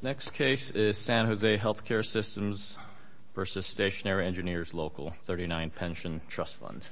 Next case is San Jose Healthcare Systems v. Stationary Engineers Local 39 Pension Trust Fund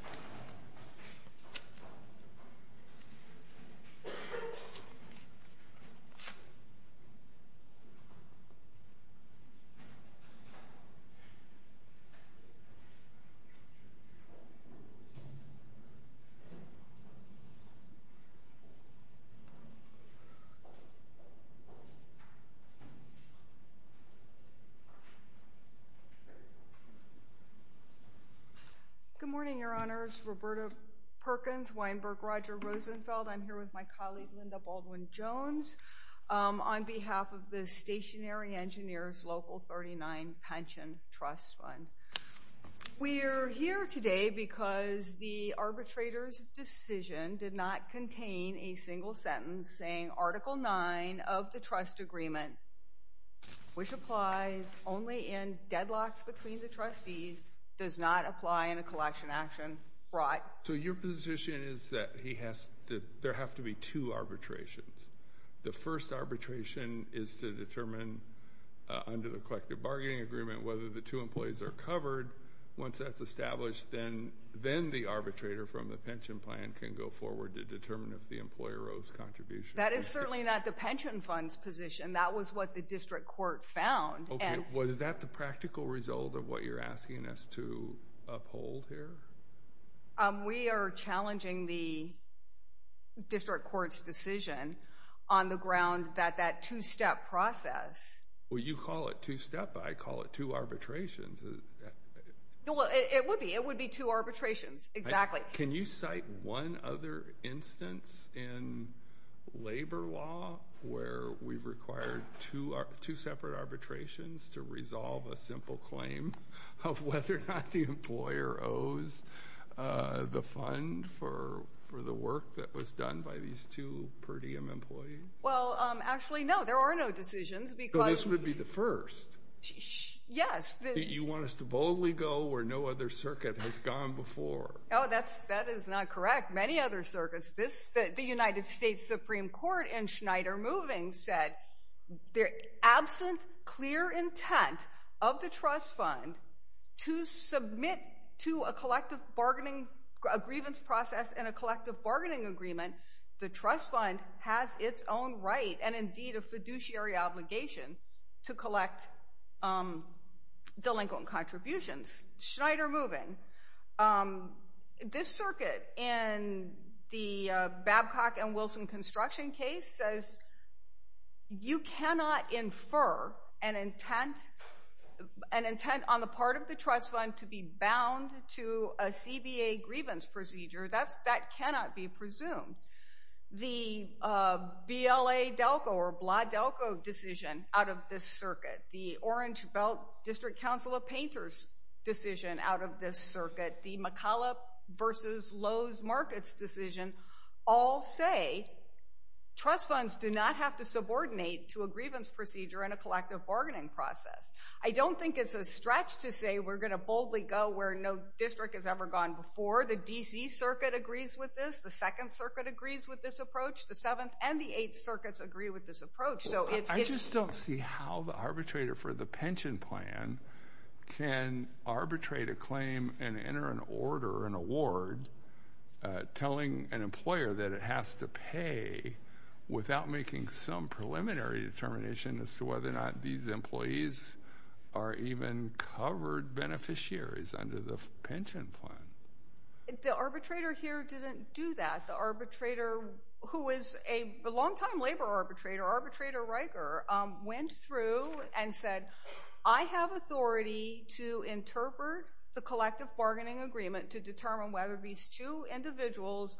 Good morning, your honors. Roberta Perkins, Weinberg, Roger Rosenfeld. I'm here with my colleague Linda Baldwin-Jones on behalf of the Stationary Engineers Local 39 Pension Trust Fund. We're here today because the arbitrator's decision did not contain a single sentence saying Article 9 of the trust agreement, which applies only in deadlocks between the trustees, does not apply in a collection action. So your position is that there have to be two arbitrations. The first arbitration is to determine under the collective bargaining agreement whether the two employees are covered. Once that's established, then the arbitrator from the pension plan can go forward to determine if the employer owes contributions. That is certainly not the pension funds position. That was what the district court found. Was that the practical result of what you're asking us to uphold here? We are challenging the district court's decision on the ground that that two-step process... Well, you call it two-step, but I call it two arbitrations. It would be. It would be two arbitrations, exactly. Can you cite one other instance in labor law where we've required two separate arbitrations to resolve a simple claim of whether or not the employer owes the fund for the work that was done by these two per diem employees? Well, actually, no. There are no decisions because... So this would be the first? Yes. You want us to boldly go where no other circuit has gone before? Oh, that is not correct. Many other circuits. The United States Supreme Court in Schneider Moving said, absent clear intent of the trust fund to submit to a collective bargaining... a grievance process in a collective bargaining agreement, the trust fund has its own right and indeed a fiduciary obligation to collect delinquent contributions. In Schneider Moving, this circuit in the Babcock and Wilson construction case says you cannot infer an intent on the part of the trust fund to be bound to a CBA grievance procedure. That cannot be presumed. The BLA-Delco or Blah-Delco decision out of this circuit, the Orange Belt District Council of Painters decision out of this circuit, the McCullough versus Lowe's Markets decision all say trust funds do not have to subordinate to a grievance procedure in a collective bargaining process. I don't think it's a stretch to say we're going to boldly go where no district has ever gone before. The D.C. Circuit agrees with this. The Second Circuit agrees with this approach. The Seventh and the Eighth Circuits agree with this approach. I just don't see how the arbitrator for the pension plan can arbitrate a claim and enter an order, an award, telling an employer that it has to pay without making some preliminary determination as to whether or not these employees are even covered beneficiaries under the pension plan. The arbitrator here didn't do that. The arbitrator who is a longtime labor arbitrator, arbitrator Riker, went through and said, I have authority to interpret the collective bargaining agreement to determine whether these two individuals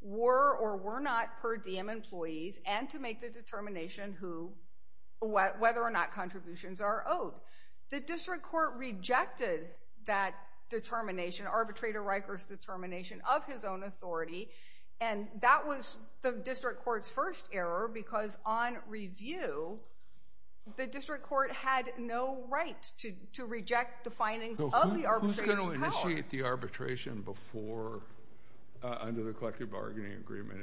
were or were not per diem employees and to make the determination whether or not contributions are owed. The district court rejected that determination, arbitrator Riker's determination of his own authority, and that was the district court's first error because on review, the district court had no right to reject the findings of the arbitrator's power. I appreciate the arbitration before, under the collective bargaining agreement,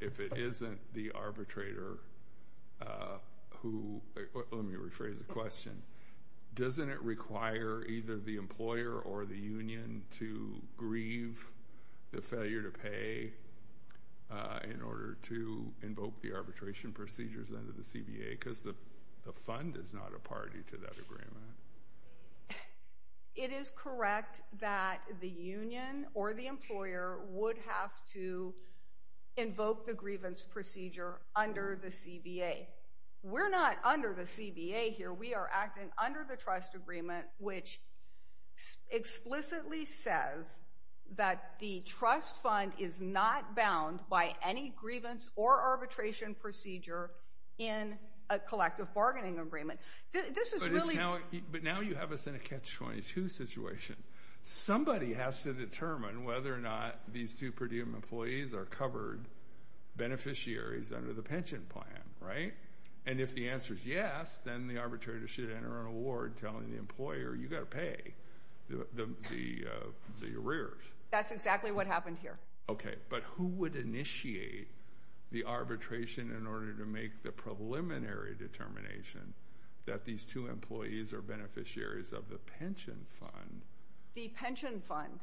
if it isn't the arbitrator who, let me rephrase the question, doesn't it require either the employer or the union to grieve the failure to pay in order to invoke the arbitration procedures under the CBA because the fund is not a party to that agreement. It is correct that the union or the employer would have to invoke the grievance procedure under the CBA. We're not under the CBA here. We are acting under the trust agreement which explicitly says that the trust fund is not bound by any grievance or arbitration procedure in a collective bargaining agreement. But now you have us in a catch-22 situation. Somebody has to determine whether or not these two per diem employees are covered beneficiaries under the pension plan, right? And if the answer is yes, then the arbitrator should enter an award telling the employer, you've got to pay the arrears. That's exactly what happened here. Okay, but who would initiate the arbitration in order to make the preliminary determination that these two employees are beneficiaries of the pension fund? The pension fund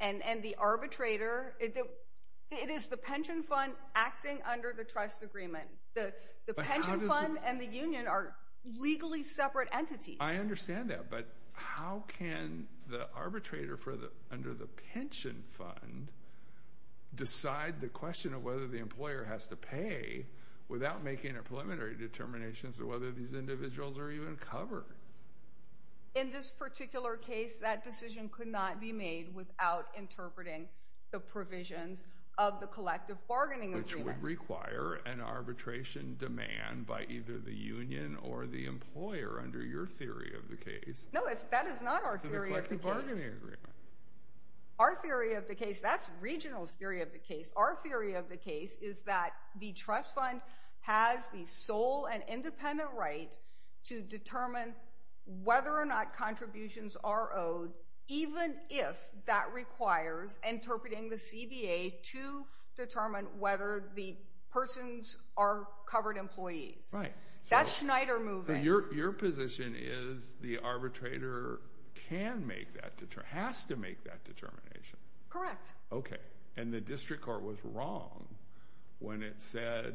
and the arbitrator. It is the pension fund acting under the trust agreement. The pension fund and the union are legally separate entities. I understand that. But how can the arbitrator under the pension fund decide the question of whether the employer has to pay without making a preliminary determination as to whether these individuals are even covered? In this particular case, that decision could not be made without interpreting the provisions of the collective bargaining agreement. Which would require an arbitration demand by either the union or the employer under your theory of the case. No, that is not our theory of the case. The collective bargaining agreement. Our theory of the case, that's regional's theory of the case. Our theory of the case is that the trust fund has the sole and independent right to determine whether or not contributions are owed, even if that requires interpreting the CBA to determine whether the persons are covered employees. Right. That's Schneider moving. Your position is the arbitrator can make that, has to make that determination. Correct. Okay. And the district court was wrong when it said,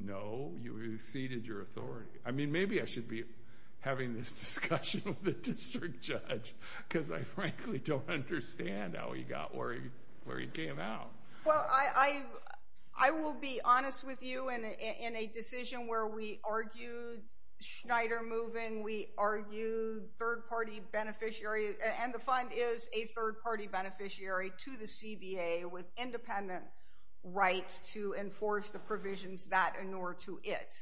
no, you exceeded your authority. I mean, maybe I should be having this discussion with the district judge because I frankly don't understand how he got where he came out. Well, I will be honest with you. In a decision where we argued Schneider moving, we argued third-party beneficiary, and the fund is a third-party beneficiary to the CBA with independent rights to enforce the provisions that inure to it.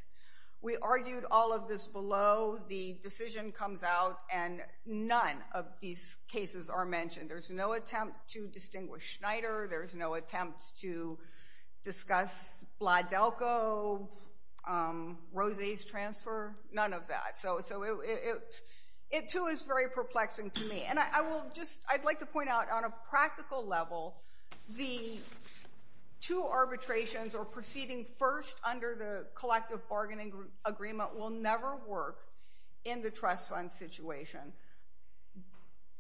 We argued all of this below. The decision comes out and none of these cases are mentioned. There's no attempt to distinguish Schneider. There's no attempt to discuss Bladelko, Rose's transfer, none of that. So it too is very perplexing to me. And I will just, I'd like to point out on a practical level, the two arbitrations or proceeding first under the collective bargaining agreement will never work in the trust fund situation.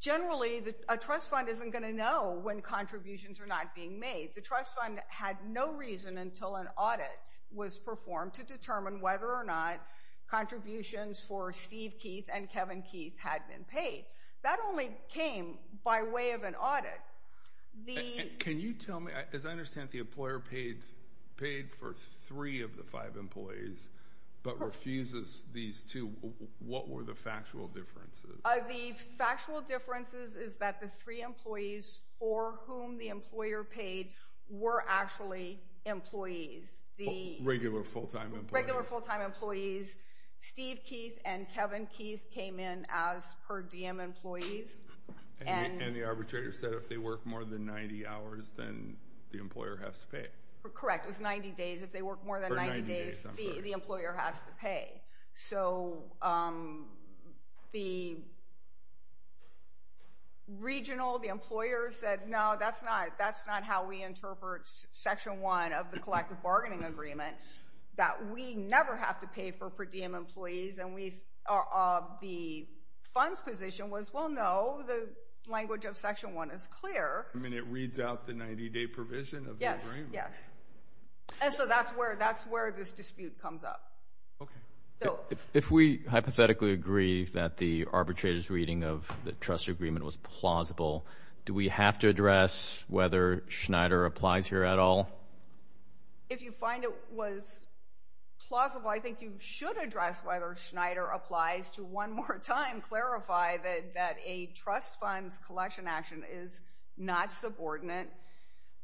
Generally, a trust fund isn't going to know when contributions are not being made. The trust fund had no reason until an audit was performed to determine whether or not contributions for Steve Keith and Kevin Keith had been paid. That only came by way of an audit. Can you tell me, as I understand, the employer paid for three of the five employees but refuses these two. What were the factual differences? The factual differences is that the three employees for whom the employer paid were actually employees. Regular full-time employees? Regular full-time employees. Steve Keith and Kevin Keith came in as per diem employees. And the arbitrator said if they work more than 90 hours, then the employer has to pay. Correct. It was 90 days. If they work more than 90 days, the employer has to pay. So the regional, the employer said, no, that's not how we interpret section one of the collective bargaining agreement, that we never have to pay for per diem employees. The fund's position was, well, no, the language of section one is clear. I mean, it reads out the 90-day provision of the agreement. Yes, yes. And so that's where this dispute comes up. Okay. If we hypothetically agree that the arbitrator's reading of the trust agreement was plausible, do we have to address whether Schneider applies here at all? If you find it was plausible, I think you should address whether Schneider applies to one more time clarify that a trust fund's collection action is not subordinate,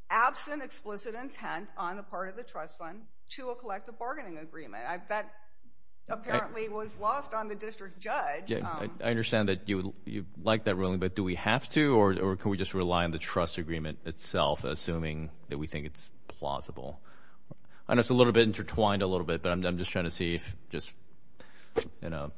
absent explicit intent on the part of the trust fund to a collective bargaining agreement. That apparently was lost on the district judge. I understand that you like that ruling, but do we have to, or can we just rely on the trust agreement itself, assuming that we think it's plausible? I know it's a little bit intertwined a little bit, but I'm just trying to see if just, you know,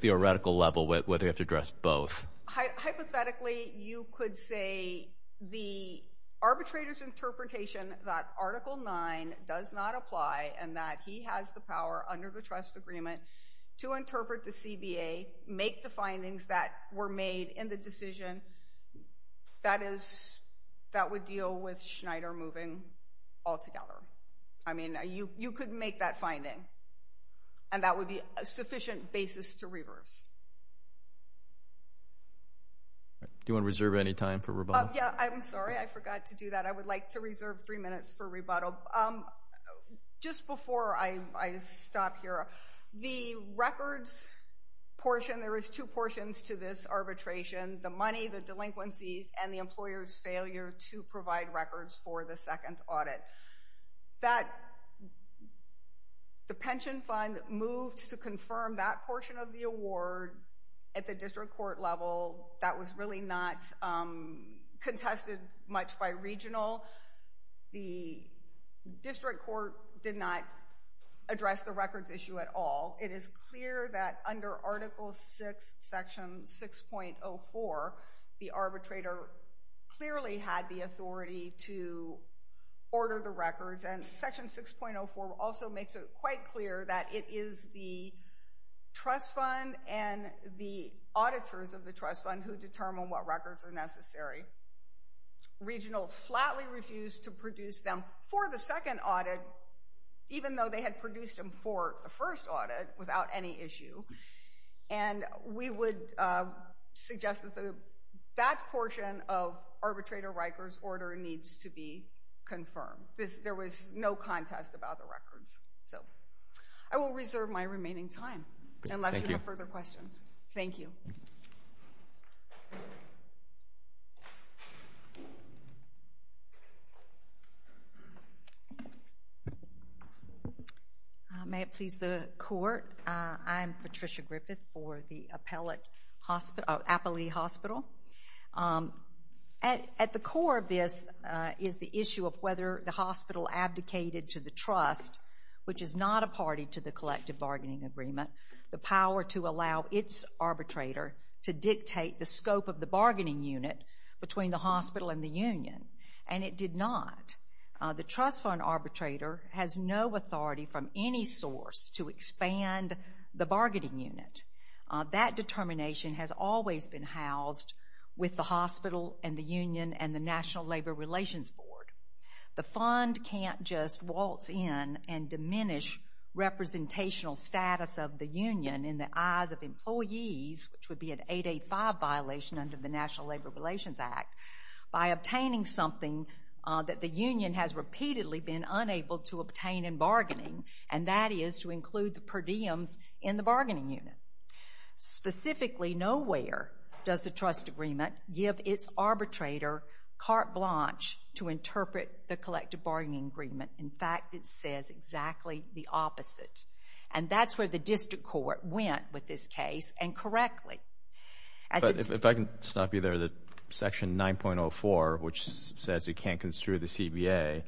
theoretical level, whether you have to address both. Hypothetically, you could say the arbitrator's interpretation that article nine does not apply and that he has the power under the trust agreement to interpret the CBA, make the findings that were made in the decision. That is, that would deal with Schneider moving altogether. I mean, you could make that finding, and that would be a sufficient basis to reverse. Do you want to reserve any time for rebuttal? Yeah, I'm sorry. I forgot to do that. Just before I stop here, the records portion, there is two portions to this arbitration, the money, the delinquencies, and the employer's failure to provide records for the second audit. The pension fund moved to confirm that portion of the award at the district court level. That was really not contested much by regional. The district court did not address the records issue at all. It is clear that under article six, section 6.04, the arbitrator clearly had the authority to order the records, and section 6.04 also makes it quite clear that it is the trust fund and the auditors of the trust fund who determine what records are necessary. Regional flatly refused to produce them for the second audit, even though they had produced them for the first audit without any issue, and we would suggest that that portion of arbitrator Riker's order needs to be confirmed. There was no contest about the records. I will reserve my remaining time, unless you have further questions. Thank you. May it please the court? I'm Patricia Griffith for the Appalachian Hospital. At the core of this is the issue of whether the hospital abdicated to the trust, which is not a party to the collective bargaining agreement, the power to allow its arbitrator to dictate the scope of the bargaining unit between the hospital and the union, and it did not. The trust fund arbitrator has no authority from any source to expand the bargaining unit. That determination has always been housed with the hospital and the union and the National Labor Relations Board. The fund can't just waltz in and diminish representational status of the union in the eyes of employees, which would be an 885 violation under the National Labor Relations Act, by obtaining something that the union has repeatedly been unable to obtain in bargaining, and that is to include the per diems in the bargaining unit. Specifically, nowhere does the trust agreement give its arbitrator carte blanche to interpret the collective bargaining agreement. In fact, it says exactly the opposite, and that's where the district court went with this case, and correctly. If I can stop you there, the Section 9.04, which says you can't construe the CBA,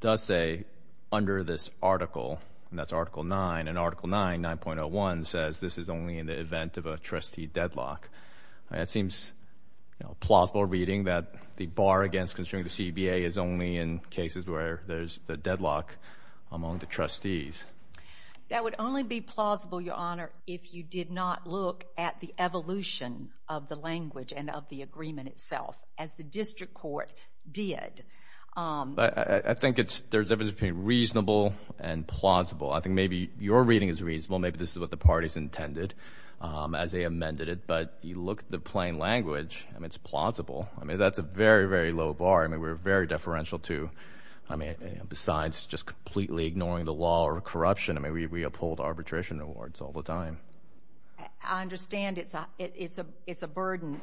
does say under this article, and that's Article 9, and Article 9, 9.01, says this is only in the event of a trustee deadlock. That seems a plausible reading that the bar against construing the CBA is only in cases where there's a deadlock among the trustees. That would only be plausible, Your Honor, if you did not look at the evolution of the language and of the agreement itself, as the district court did. I think there's a difference between reasonable and plausible. I think maybe your reading is reasonable. Maybe this is what the parties intended as they amended it, but you look at the plain language, and it's plausible. I mean, that's a very, very low bar. I mean, we're very deferential to, I mean, besides just completely ignoring the law or corruption. I mean, we uphold arbitration awards all the time. I understand it's a burden,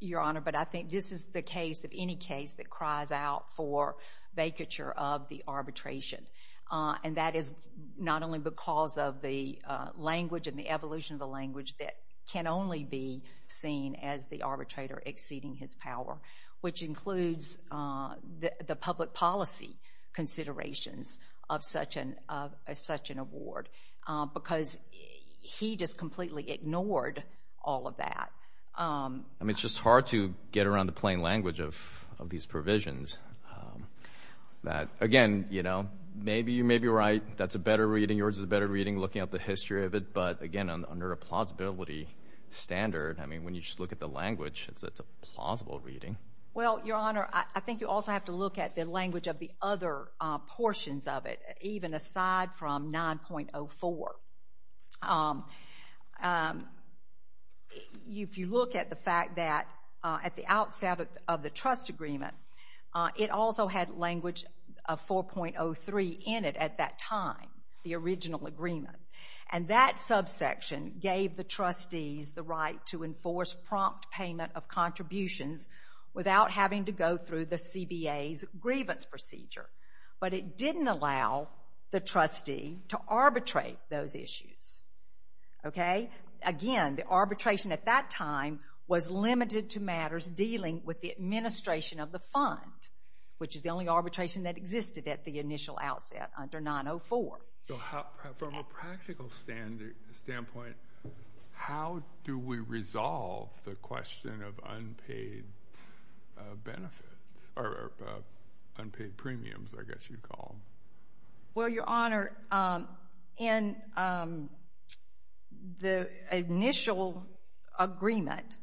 Your Honor, but I think this is the case of any case that cries out for vacature of the arbitration, and that is not only because of the language and the evolution of the language that can only be seen as the arbitrator exceeding his power, which includes the public policy considerations of such an award, because he just completely ignored all of that. I mean, it's just hard to get around the plain language of these provisions. Again, you know, maybe you're right. That's a better reading. Yours is a better reading, looking at the history of it. But, again, under a plausibility standard, I mean, when you just look at the language, it's a plausible reading. Well, Your Honor, I think you also have to look at the language of the other portions of it, even aside from 9.04. If you look at the fact that at the outset of the trust agreement, it also had language of 4.03 in it at that time, the original agreement. And that subsection gave the trustees the right to enforce prompt payment of contributions without having to go through the CBA's grievance procedure. But it didn't allow the trustee to arbitrate those issues. Okay? Again, the arbitration at that time was limited to matters dealing with the administration of the fund, which is the only arbitration that existed at the initial outset under 9.04. So from a practical standpoint, how do we resolve the question of unpaid benefits or unpaid premiums, I guess you'd call them? Well, Your Honor, in the initial agreement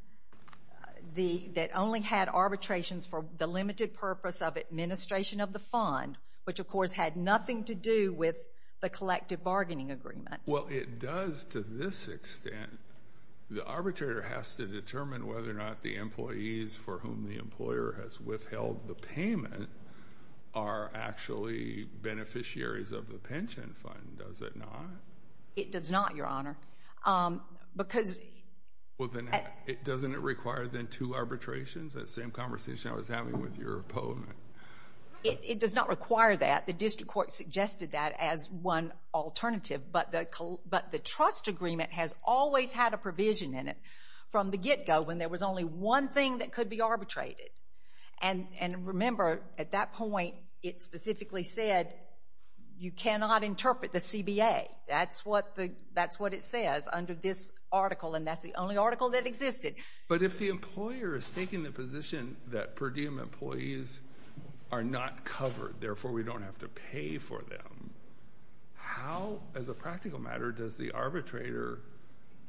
that only had arbitrations for the limited purpose of administration of the fund, which, of course, had nothing to do with the collective bargaining agreement. Well, it does to this extent. The arbitrator has to determine whether or not the employees for whom the employer has withheld the payment are actually beneficiaries of the pension fund. Does it not? It does not, Your Honor. Well, then doesn't it require then two arbitrations, that same conversation I was having with your opponent? It does not require that. The district court suggested that as one alternative. But the trust agreement has always had a provision in it from the get-go when there was only one thing that could be arbitrated. And remember, at that point, it specifically said you cannot interpret the CBA. That's what it says under this article, and that's the only article that existed. But if the employer is taking the position that per diem employees are not covered, therefore we don't have to pay for them, how, as a practical matter, does the arbitrator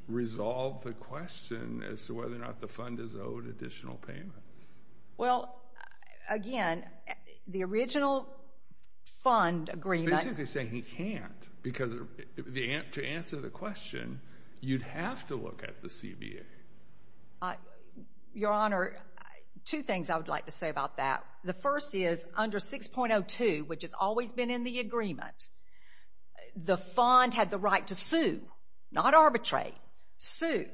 resolve the question as to whether or not the fund is owed additional payments? Well, again, the original fund agreement – to answer the question, you'd have to look at the CBA. Your Honor, two things I would like to say about that. The first is, under 6.02, which has always been in the agreement, the fund had the right to sue, not arbitrate. 6.02,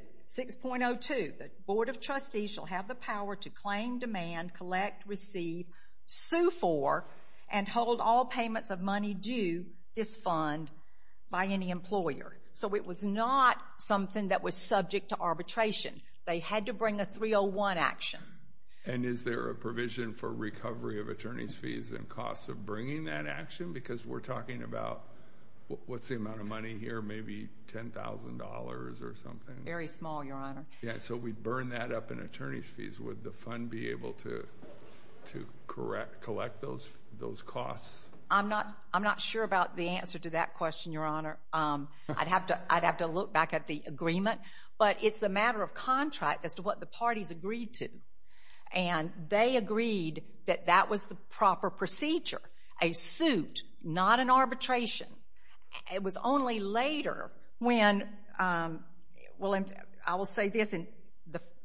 the Board of Trustees shall have the power to claim, demand, collect, receive, sue for, and hold all payments of money due this fund by any employer. So it was not something that was subject to arbitration. They had to bring a 301 action. And is there a provision for recovery of attorneys' fees and costs of bringing that action? Because we're talking about – what's the amount of money here? Maybe $10,000 or something? Very small, Your Honor. Yeah, so we'd burn that up in attorneys' fees. Would the fund be able to collect those costs? I'm not sure about the answer to that question, Your Honor. I'd have to look back at the agreement. But it's a matter of contract as to what the parties agreed to. And they agreed that that was the proper procedure, a suit, not an arbitration. It was only later when – well, I will say this.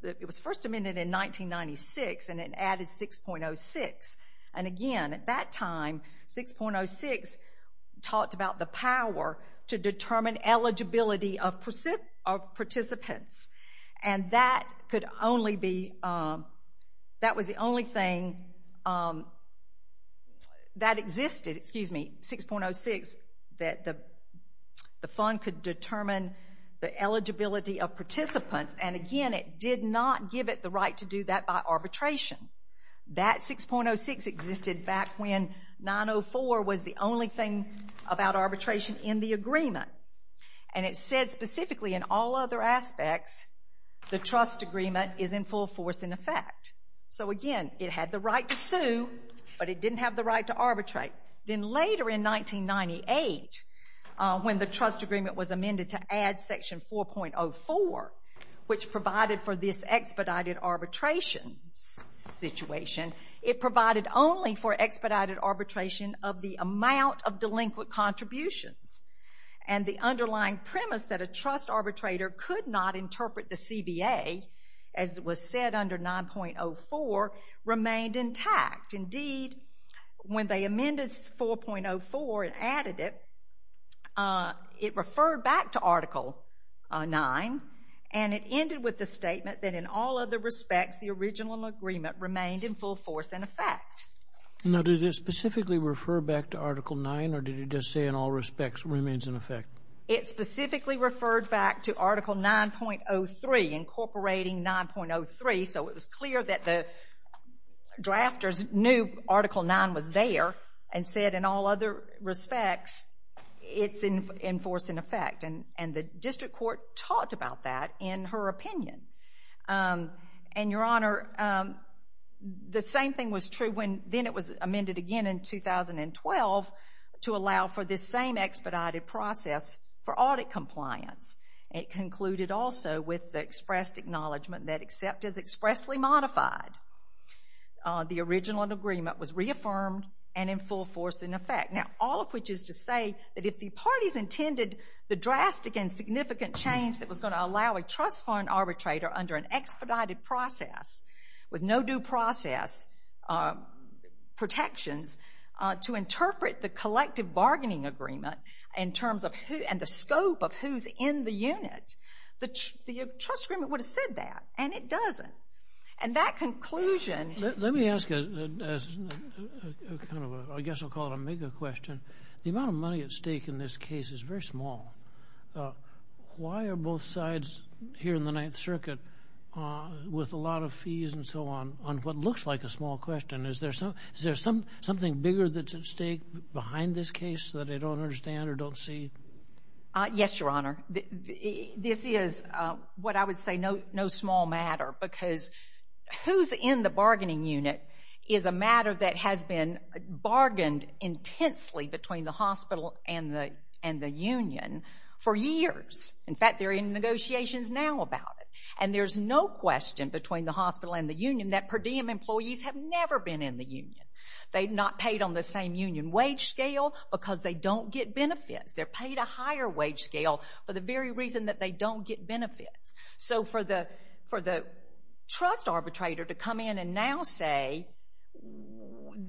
It was first amended in 1996, and it added 6.06. And again, at that time, 6.06 talked about the power to determine eligibility of participants. And that could only be – that was the only thing that existed, excuse me, 6.06, that the fund could determine the eligibility of participants. And again, it did not give it the right to do that by arbitration. That 6.06 existed back when 904 was the only thing about arbitration in the agreement. And it said specifically in all other aspects the trust agreement is in full force in effect. So again, it had the right to sue, but it didn't have the right to arbitrate. Then later in 1998, when the trust agreement was amended to add Section 4.04, which provided for this expedited arbitration situation, it provided only for expedited arbitration of the amount of delinquent contributions. And the underlying premise that a trust arbitrator could not interpret the CBA, as was said under 9.04, remained intact. Indeed, when they amended 4.04 and added it, it referred back to Article 9, and it ended with the statement that in all other respects, the original agreement remained in full force in effect. Now, did it specifically refer back to Article 9, or did it just say in all respects remains in effect? It specifically referred back to Article 9.03, incorporating 9.03, so it was clear that the drafters knew Article 9 was there and said in all other respects it's in force in effect. And the district court talked about that in her opinion. And, Your Honor, the same thing was true when then it was amended again in 2012 to allow for this same expedited process for audit compliance. It concluded also with the expressed acknowledgment that except as expressly modified, the original agreement was reaffirmed and in full force in effect. Now, all of which is to say that if the parties intended the drastic and significant change that was going to allow a trust fund arbitrator under an expedited process with no due process protections to interpret the collective bargaining agreement in terms of who and the scope of who's in the unit, the trust agreement would have said that, and it doesn't. And that conclusion- Let me ask a kind of I guess I'll call it a mega question. The amount of money at stake in this case is very small. Why are both sides here in the Ninth Circuit with a lot of fees and so on, on what looks like a small question? Is there something bigger that's at stake behind this case that I don't understand or don't see? Yes, Your Honor. This is what I would say no small matter because who's in the bargaining unit is a matter that has been bargained intensely between the hospital and the union for years. In fact, they're in negotiations now about it. And there's no question between the hospital and the union that per diem employees have never been in the union. They've not paid on the same union wage scale because they don't get benefits. They're paid a higher wage scale for the very reason that they don't get benefits. So for the trust arbitrator to come in and now say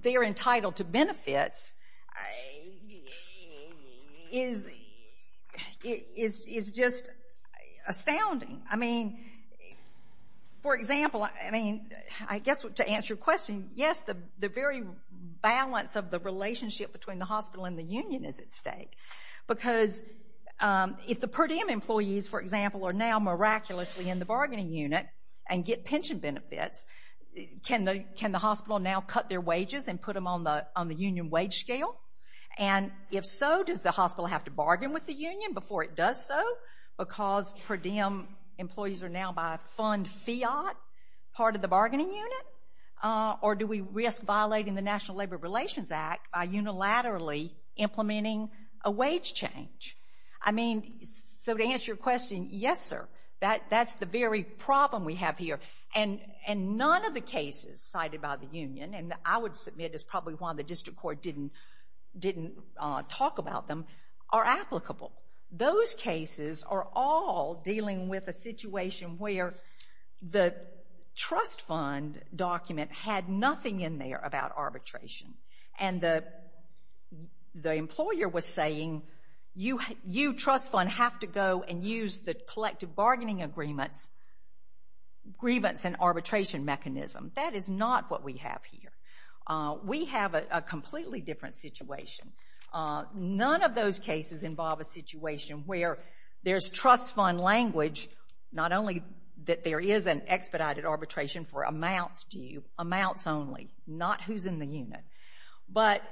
they're entitled to benefits is just astounding. I mean, for example, I mean, I guess to answer your question, yes, the very balance of the relationship between the hospital and the union is at stake because if the per diem employees, for example, are now miraculously in the bargaining unit and get pension benefits, can the hospital now cut their wages and put them on the union wage scale? And if so, does the hospital have to bargain with the union before it does so because per diem employees are now by fund fiat part of the bargaining unit? Or do we risk violating the National Labor Relations Act by unilaterally implementing a wage change? I mean, so to answer your question, yes, sir. That's the very problem we have here. And none of the cases cited by the union, and I would submit is probably why the district court didn't talk about them, are applicable. Those cases are all dealing with a situation where the trust fund document had nothing in there about arbitration. And the employer was saying you trust fund have to go and use the collective bargaining agreements, grievance and arbitration mechanism. That is not what we have here. We have a completely different situation. None of those cases involve a situation where there's trust fund language, not only that there is an expedited arbitration for amounts due, amounts only, not who's in the unit. But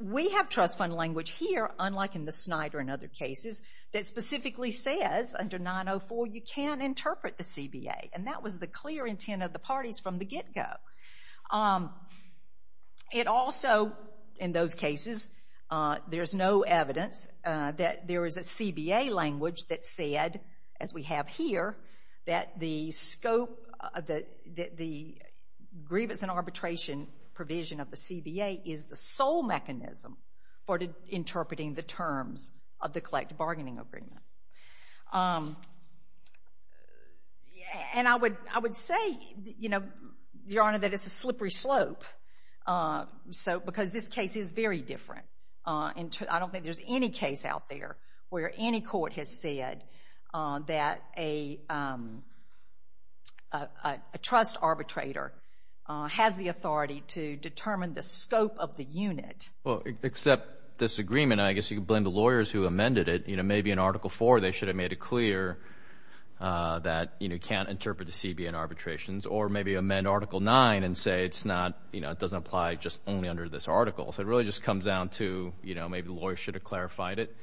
we have trust fund language here, unlike in the Snyder and other cases, that specifically says under 904 you can interpret the CBA. And that was the clear intent of the parties from the get-go. It also, in those cases, there's no evidence that there is a CBA language that said, as we have here, that the scope of the grievance and arbitration provision of the CBA is the sole mechanism for interpreting the terms of the collective bargaining agreement. And I would say, you know, Your Honor, that it's a slippery slope because this case is very different. I don't think there's any case out there where any court has said that a trust arbitrator has the authority to determine the scope of the unit. Well, except this agreement, I guess you could blame the lawyers who amended it, you know, maybe in Article IV they should have made it clear that, you know, you can't interpret the CBN arbitrations, or maybe amend Article IX and say it's not, you know, it doesn't apply just only under this article. So it really just comes down to, you know, maybe the lawyers should have clarified it.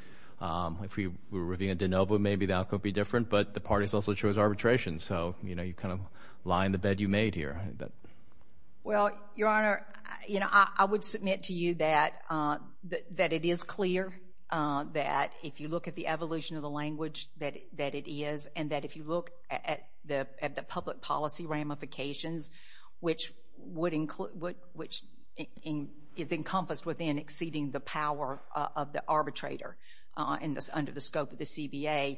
If we were reviewing a de novo, maybe that could be different, but the parties also chose arbitration. So, you know, you kind of lie in the bed you made here. Well, Your Honor, you know, I would submit to you that it is clear that if you look at the evolution of the language, that it is, and that if you look at the public policy ramifications, which is encompassed within exceeding the power of the arbitrator under the scope of the CBA,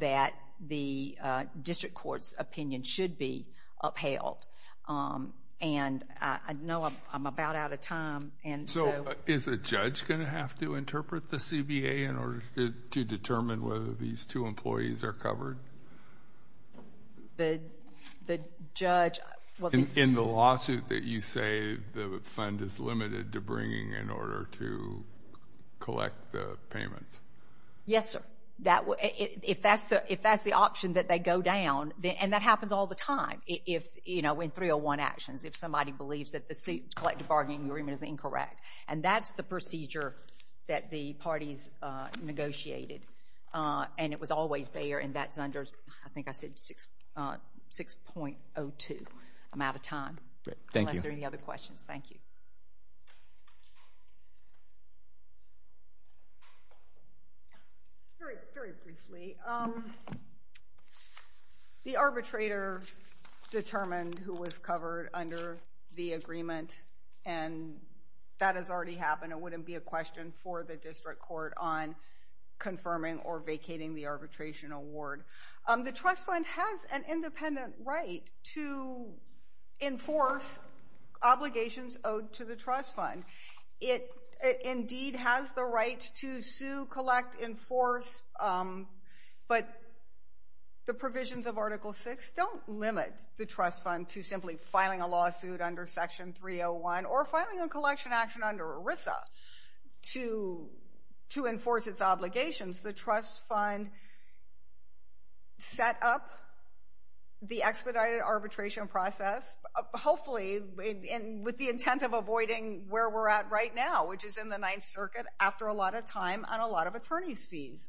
that the district court's opinion should be upheld. And I know I'm about out of time. So is a judge going to have to interpret the CBA in order to determine whether these two employees are covered? The judge – In the lawsuit that you say the fund is limited to bringing in order to collect the payment. Yes, sir. If that's the option that they go down, and that happens all the time, you know, in 301 actions, if somebody believes that the collective bargaining agreement is incorrect. And that's the procedure that the parties negotiated. And it was always there, and that's under, I think I said 6.02. I'm out of time. Great. Thank you. Unless there are any other questions. Thank you. Very briefly. The arbitrator determined who was covered under the agreement, and that has already happened. It wouldn't be a question for the district court on confirming or vacating the arbitration award. The trust fund has an independent right to enforce obligations owed to the trust fund. It indeed has the right to sue, collect, enforce, but the provisions of Article VI don't limit the trust fund to simply filing a lawsuit under Section 301 or filing a collection action under ERISA to enforce its obligations. The trust fund set up the expedited arbitration process, hopefully with the intent of avoiding where we're at right now, which is in the Ninth Circuit after a lot of time and a lot of attorneys' fees.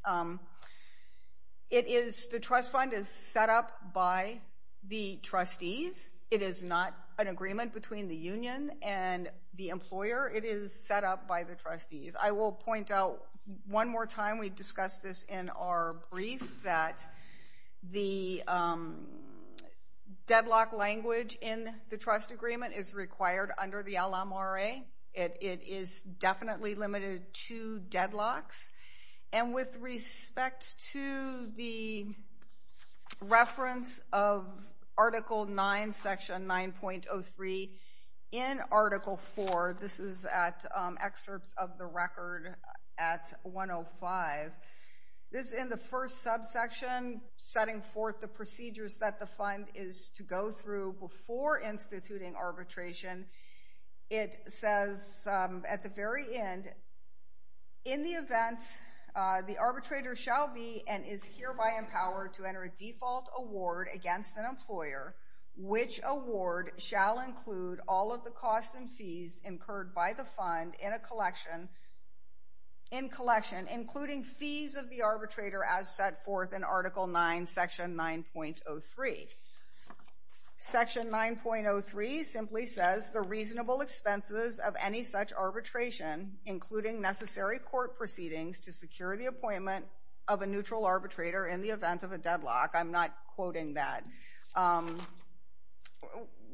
The trust fund is set up by the trustees. It is not an agreement between the union and the employer. It is set up by the trustees. I will point out one more time, we discussed this in our brief, that the deadlock language in the trust agreement is required under the LMRA. It is definitely limited to deadlocks. And with respect to the reference of Article IX, Section 9.03, in Article IV, this is at excerpts of the record at 105, this is in the first subsection setting forth the procedures that the fund is to go through before instituting arbitration. It says at the very end, in the event the arbitrator shall be and is hereby empowered to enter a default award against an employer, which award shall include all of the costs and fees incurred by the fund in collection, including fees of the arbitrator as set forth in Article IX, Section 9.03. Section 9.03 simply says the reasonable expenses of any such arbitration, including necessary court proceedings to secure the appointment of a neutral arbitrator in the event of a deadlock, I'm not quoting that,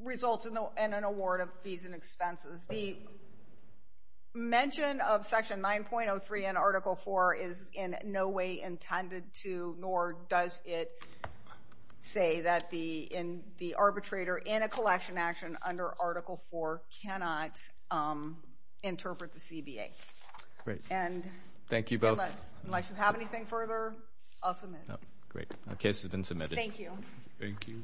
results in an award of fees and expenses. The mention of Section 9.03 in Article IV is in no way intended to, nor does it say that the arbitrator in a collection action under Article IV cannot interpret the CBA. And unless you have anything further, I'll submit. Great. The case has been submitted. Thank you. Thank you.